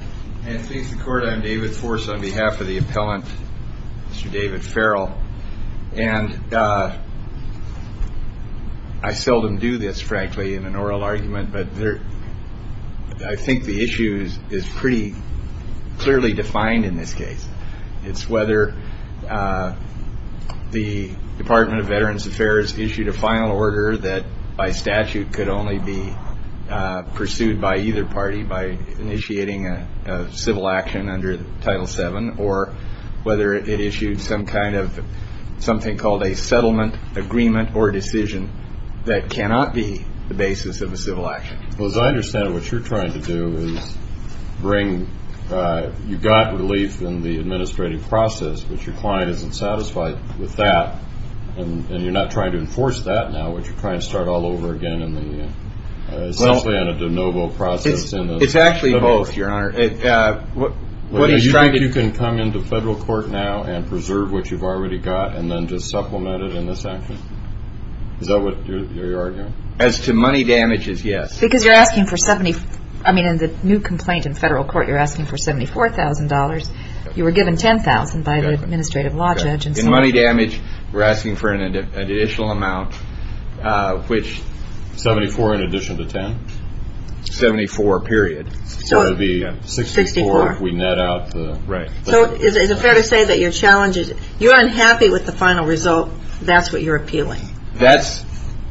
I think the issues is pretty clearly defined in this case. It's whether the Department of Veterans Affairs issued a final order that by statute could only be pursued by either party by initiating a civil action under Title VII or whether it issued some kind of something called a settlement, agreement, or decision that cannot be the basis of a civil action. As I understand it, what you're trying to do is bring, you got relief in the administrative process, but your client isn't satisfied with that and you're not trying to enforce that now, which you're trying to start all over again, essentially on a de novo process. It's actually both, Your Honor. Do you think you can come into federal court now and preserve what you've already got and then just supplement it in this action? Is that what you're arguing? As to money damages, yes. Because you're asking for, I mean, in the new complaint in federal court, you're asking for $74,000. You were given $10,000 by the administrative law judge. In money damage, we're asking for an additional amount, which... $74,000 in addition to $10,000? $74,000 period. So it would be $64,000 if we net out the... Right. So is it fair to say that you're unhappy with the final result? That's what you're appealing? That's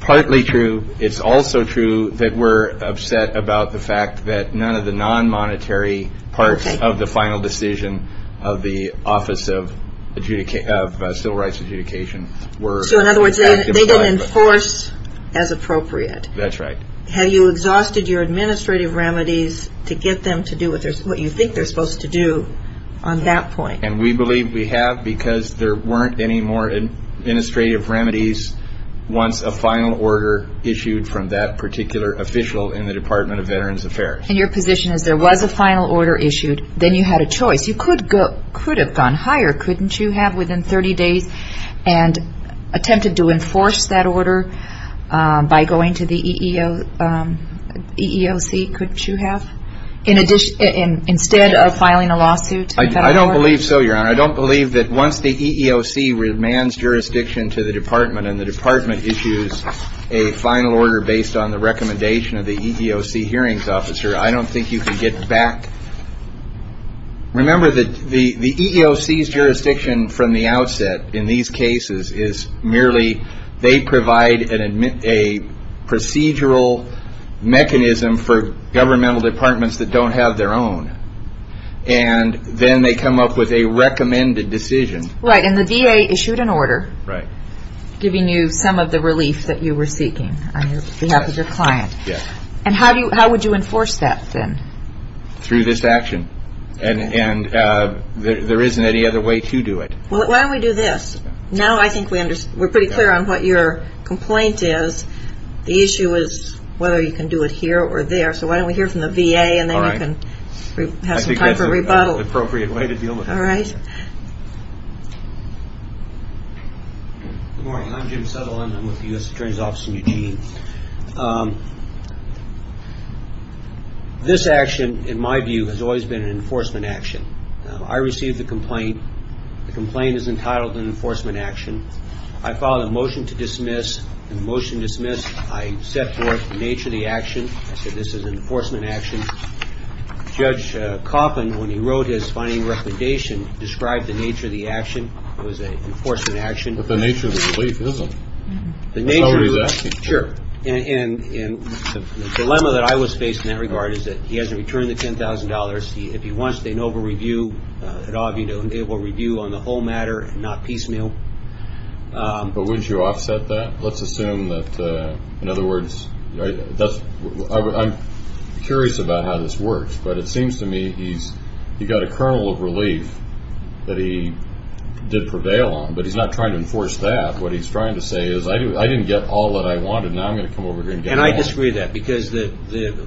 partly true. It's also true that we're upset about the fact that none of the non-monetary parts of the final decision of the Office of Civil Rights Adjudication were... So in other words, they didn't enforce as appropriate. That's right. Have you exhausted your administrative remedies to get them to do what you think they're supposed to do on that point? And we believe we have because there weren't any more administrative remedies once a final order issued from that particular official in the Department of Veterans Affairs. And your position is there was a final order issued, then you had a choice. You could have gone higher, couldn't you have, within 30 days and attempted to enforce that order by going to the EEOC, couldn't you have, instead of filing a lawsuit? I don't believe so, Your Honor. I don't believe that once the EEOC remands jurisdiction to the Department and the Department issues a final order based on the recommendation of the EEOC hearings officer, I don't think you can get back... Remember that the EEOC's jurisdiction from the outset in these cases is merely they provide a procedural mechanism for governmental departments that don't have their own. And then they come up with a recommended decision. Right, and the VA issued an order giving you some of the relief that you were seeking on behalf of your client. Yes. And how would you enforce that then? Through this action. And there isn't any other way to do it. Why don't we do this? Now I think we're pretty clear on what your complaint is. The issue is whether you can do it here or there. So why don't we hear from the VA and then we can have some time for rebuttal. I think that's an appropriate way to deal with it. All right. Good morning. I'm Jim Settle and I'm with the U.S. Attorney's Office in Eugene. This action, in my view, has always been an enforcement action. I received the complaint. The complaint is entitled an enforcement action. I filed a motion to dismiss. In the motion to dismiss, I set forth the nature of the action. I said this is an enforcement action. Judge Coffin, when he wrote his finding recommendation, described the nature of the action. It was an enforcement action. But the nature of the relief isn't. Sure. And the dilemma that I was faced in that regard is that he hasn't returned the $10,000. If he wants an over-review, it will review on the whole matter and not piecemeal. But would you offset that? Let's assume that, in other words, I'm curious about how this works. But it seems to me he's got a kernel of relief that he did prevail on. But he's not trying to enforce that. What he's trying to say is I didn't get all that I wanted. Now I'm going to come over here and get it all. And I disagree with that because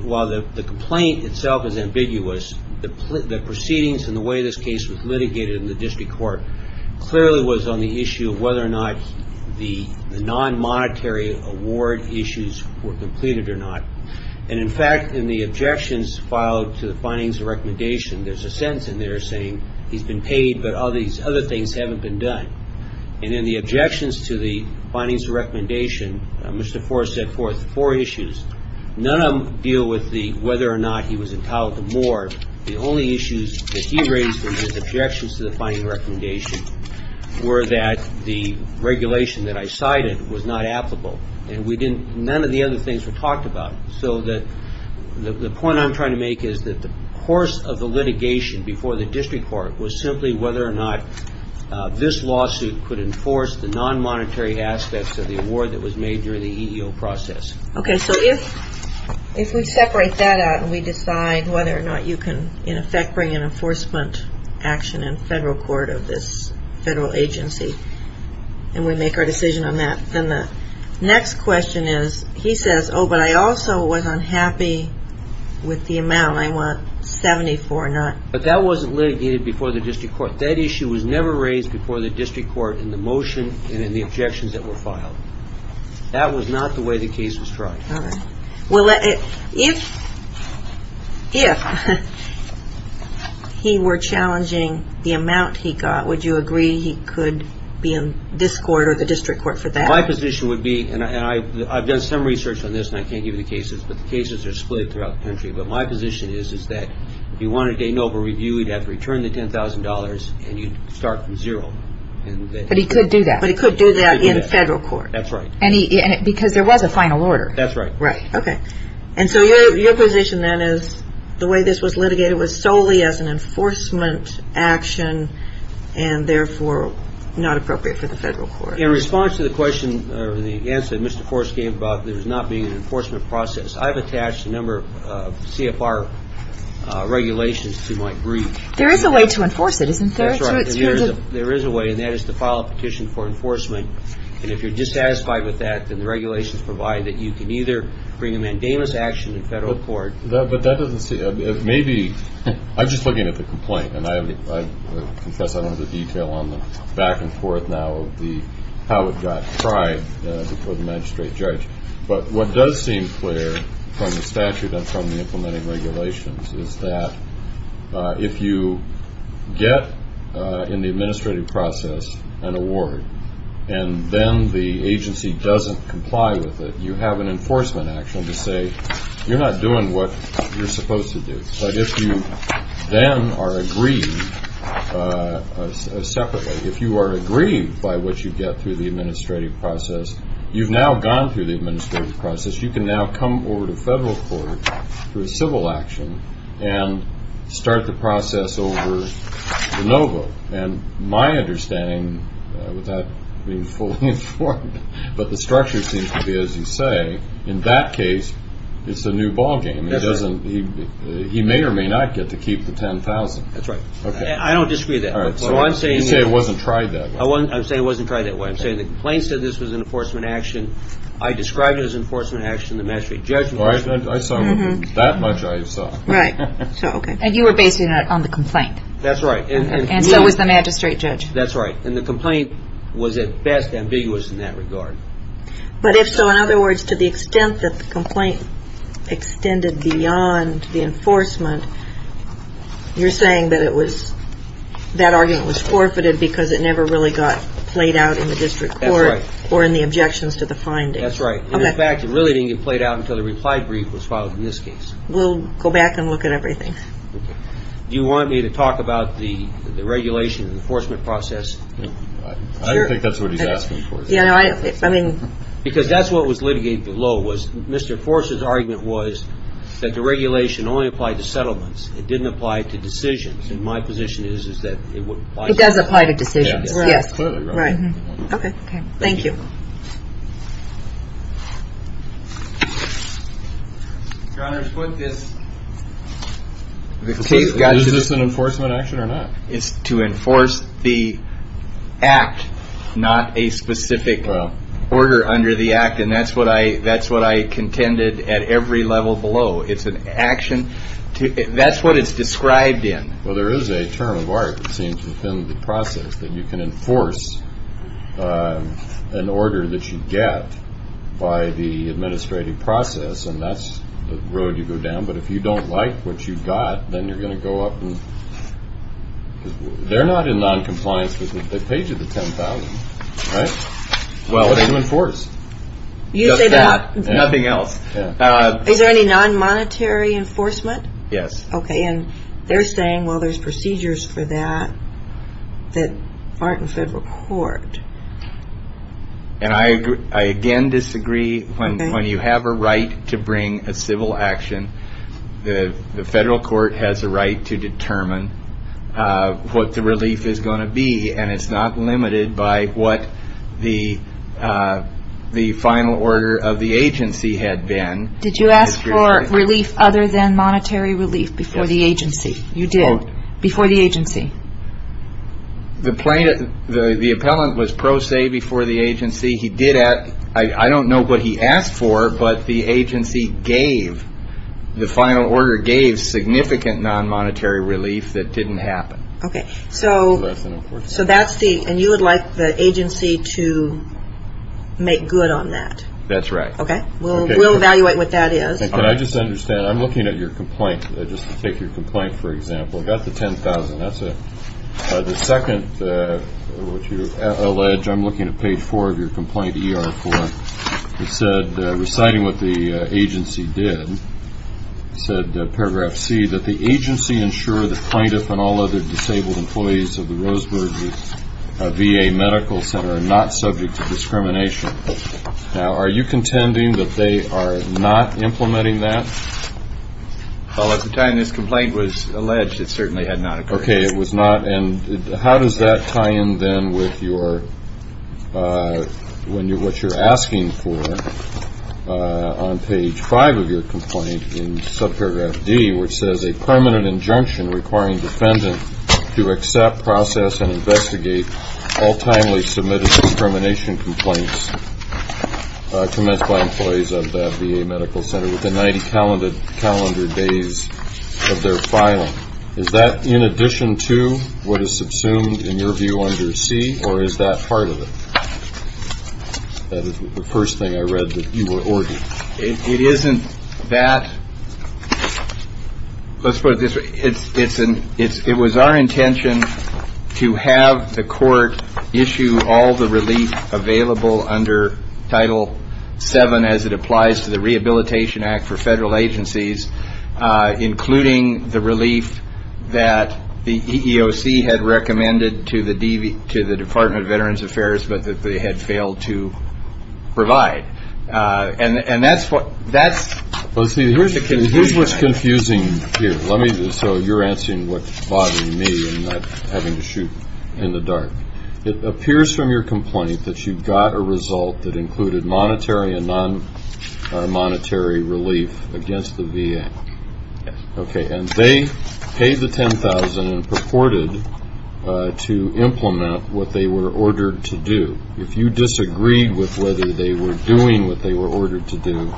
while the complaint itself is ambiguous, the proceedings and the way this case was litigated in the district court clearly was on the issue of whether or not the non-monetary award issues were completed or not. And, in fact, in the objections filed to the findings of recommendation, there's a sentence in there saying he's been paid but all these other things haven't been done. And in the objections to the findings of recommendation, Mr. Forrest set forth four issues. None of them deal with whether or not he was entitled to more. The only issues that he raised in his objections to the findings of recommendation were that the regulation that I cited was not applicable. And none of the other things were talked about. So the point I'm trying to make is that the course of the litigation before the district court was simply whether or not this lawsuit could enforce the non-monetary aspects of the award that was made during the EEO process. Okay, so if we separate that out and we decide whether or not you can, in effect, bring an enforcement action in federal court of this federal agency and we make our decision on that, then the next question is he says, oh, but I also was unhappy with the amount. I want 74 not. But that wasn't litigated before the district court. That issue was never raised before the district court in the motion and in the objections that were filed. That was not the way the case was tried. All right. Well, if he were challenging the amount he got, would you agree he could be in this court or the district court for that? My position would be, and I've done some research on this, and I can't give you the cases, but the cases are split throughout the country. But my position is that if you wanted a noble review, you'd have to return the $10,000, and you'd start from zero. But he could do that. But he could do that in federal court. That's right. Because there was a final order. That's right. Right. Okay. And so your position then is the way this was litigated was solely as an enforcement action and therefore not appropriate for the federal court. In response to the question or the answer that Mr. Forst gave about there not being an enforcement process, I've attached a number of CFR regulations to my brief. There is a way to enforce it, isn't there? That's right. There is a way, and that is to file a petition for enforcement. And if you're dissatisfied with that, then the regulations provide that you can either bring a mandamus action in federal court. But that doesn't seem to be, maybe, I'm just looking at the complaint, and I confess I don't have the detail on the back and forth now of how it got tried before the magistrate judge. But what does seem clear from the statute and from the implementing regulations is that if you get, in the administrative process, an award, and then the agency doesn't comply with it, you have an enforcement action to say you're not doing what you're supposed to do. But if you then are agreed separately, if you are agreed by what you get through the administrative process, you've now gone through the administrative process. You can now come over to federal court for a civil action and start the process over the NOVO. And my understanding, without being fully informed, but the structure seems to be, as you say, in that case, it's a new ballgame. He may or may not get to keep the $10,000. That's right. I don't disagree with that. You say it wasn't tried that way. I'm saying it wasn't tried that way. I'm saying the complaint said this was an enforcement action. I described it as enforcement action. The magistrate judge was. I saw that much I saw. Right. Okay. And you were based on the complaint. That's right. And so was the magistrate judge. That's right. And the complaint was at best ambiguous in that regard. But if so, in other words, to the extent that the complaint extended beyond the enforcement, you're saying that it was, that argument was forfeited because it never really got played out in the district court. That's right. Or in the objections to the finding. That's right. In fact, it really didn't get played out until the reply brief was filed in this case. We'll go back and look at everything. Okay. Do you want me to talk about the regulation and the enforcement process? Sure. I don't think that's what he's asking for. Yeah. I mean. Because that's what was litigated below was Mr. Forse's argument was that the regulation only applied to settlements. It didn't apply to decisions. And my position is that it would apply. It does apply to decisions. Yes. Right. Okay. Okay. Okay. Thank you. Your Honor, what this. Is this an enforcement action or not? It's to enforce the act, not a specific order under the act. And that's what I contended at every level below. It's an action. That's what it's described in. Well, there is a term of art, it seems, within the process that you can enforce. An order that you get by the administrative process. And that's the road you go down. But if you don't like what you got, then you're going to go up and. They're not in noncompliance with the page of the 10,000. Right. Well, they do enforce. You say that. Nothing else. Is there any non-monetary enforcement? Yes. Okay. And they're saying, well, there's procedures for that that aren't in federal court. And I again disagree. When you have a right to bring a civil action, the federal court has a right to determine what the relief is going to be. And it's not limited by what the final order of the agency had been. Did you ask for relief other than monetary relief before the agency? You did. Before the agency. The appellant was pro se before the agency. He did ask. I don't know what he asked for, but the agency gave. The final order gave significant non-monetary relief that didn't happen. Okay. So that's the. And you would like the agency to make good on that. That's right. Okay. We'll evaluate what that is. Can I just understand? I'm looking at your complaint, just to take your complaint, for example. I've got the $10,000. That's it. The second, which you allege, I'm looking at page four of your complaint, ER-4. It said, reciting what the agency did, said paragraph C, that the agency ensure the plaintiff and all other disabled employees of the Roseburg VA Medical Center are not subject to discrimination. Now, are you contending that they are not implementing that? Well, at the time this complaint was alleged, it certainly had not occurred. Okay. It was not. And how does that tie in, then, with what you're asking for on page five of your complaint in subparagraph D, all timely submitted discrimination complaints commenced by employees of the VA Medical Center within 90 calendar days of their filing? Is that in addition to what is subsumed, in your view, under C, or is that part of it? That is the first thing I read that you were ordering. It isn't that. Let's put it this way. It was our intention to have the court issue all the relief available under Title VII, as it applies to the Rehabilitation Act for federal agencies, including the relief that the EEOC had recommended to the Department of Veterans Affairs, but that they had failed to provide. And that's the confusion. Well, see, here's what's confusing here. So you're answering what's bothering me and not having to shoot in the dark. It appears from your complaint that you got a result that included monetary and non-monetary relief against the VA. Yes. Okay. And they paid the $10,000 and purported to implement what they were ordered to do. If you disagreed with whether they were doing what they were ordered to do,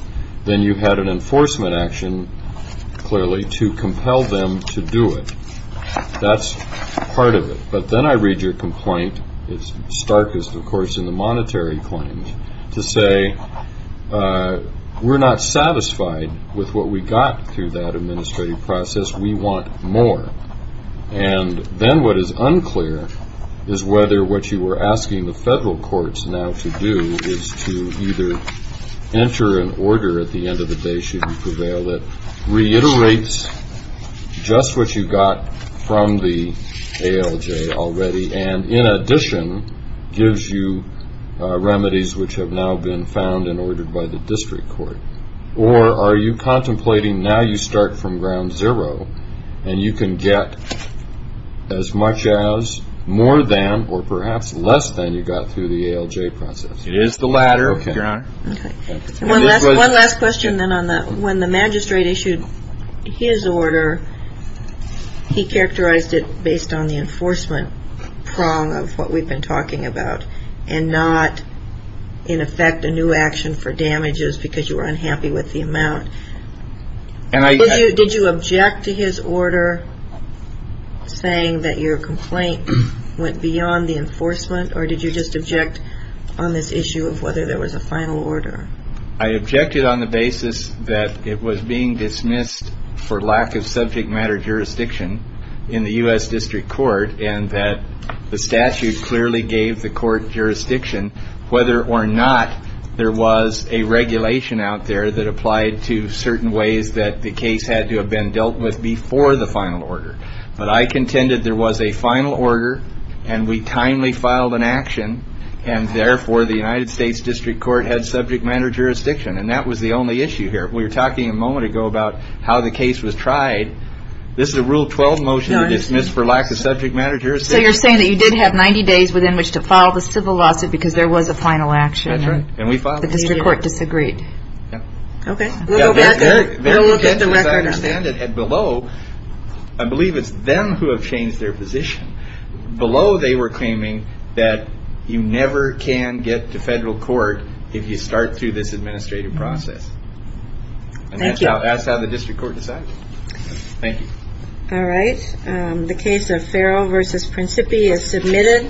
then you had an enforcement action, clearly, to compel them to do it. That's part of it. But then I read your complaint, as stark as, of course, in the monetary claims, to say we're not satisfied with what we got through that administrative process. We want more. And then what is unclear is whether what you were asking the federal courts now to do is to either enter an order at the end of the day, should you prevail, that reiterates just what you got from the ALJ already and, in addition, gives you remedies which have now been found and ordered by the district court. Or are you contemplating now you start from ground zero and you can get as much as more than or perhaps less than you got through the ALJ process? It is the latter, Your Honor. Okay. One last question then on that. When the magistrate issued his order, he characterized it based on the enforcement prong of what we've been talking about and not, in effect, a new action for damages because you were unhappy with the amount. Did you object to his order saying that your complaint went beyond the enforcement or did you just object on this issue of whether there was a final order? I objected on the basis that it was being dismissed for lack of subject matter jurisdiction in the U.S. District Court and that the statute clearly gave the court jurisdiction whether or not there was a regulation out there that applied to certain ways that the case had to have been dealt with before the final order. But I contended there was a final order and we timely filed an action and, therefore, the United States District Court had subject matter jurisdiction and that was the only issue here. We were talking a moment ago about how the case was tried. This is a Rule 12 motion that was dismissed for lack of subject matter jurisdiction. So you're saying that you did have 90 days within which to file the civil lawsuit because there was a final action and the District Court disagreed. Yes. Okay. We'll look at the record. As I understand it, below, I believe it's them who have changed their position. Below they were claiming that you never can get to federal court if you start through this administrative process. Thank you. And that's how the District Court decided. Thank you. All right. The case of Farrell v. Principi is submitted.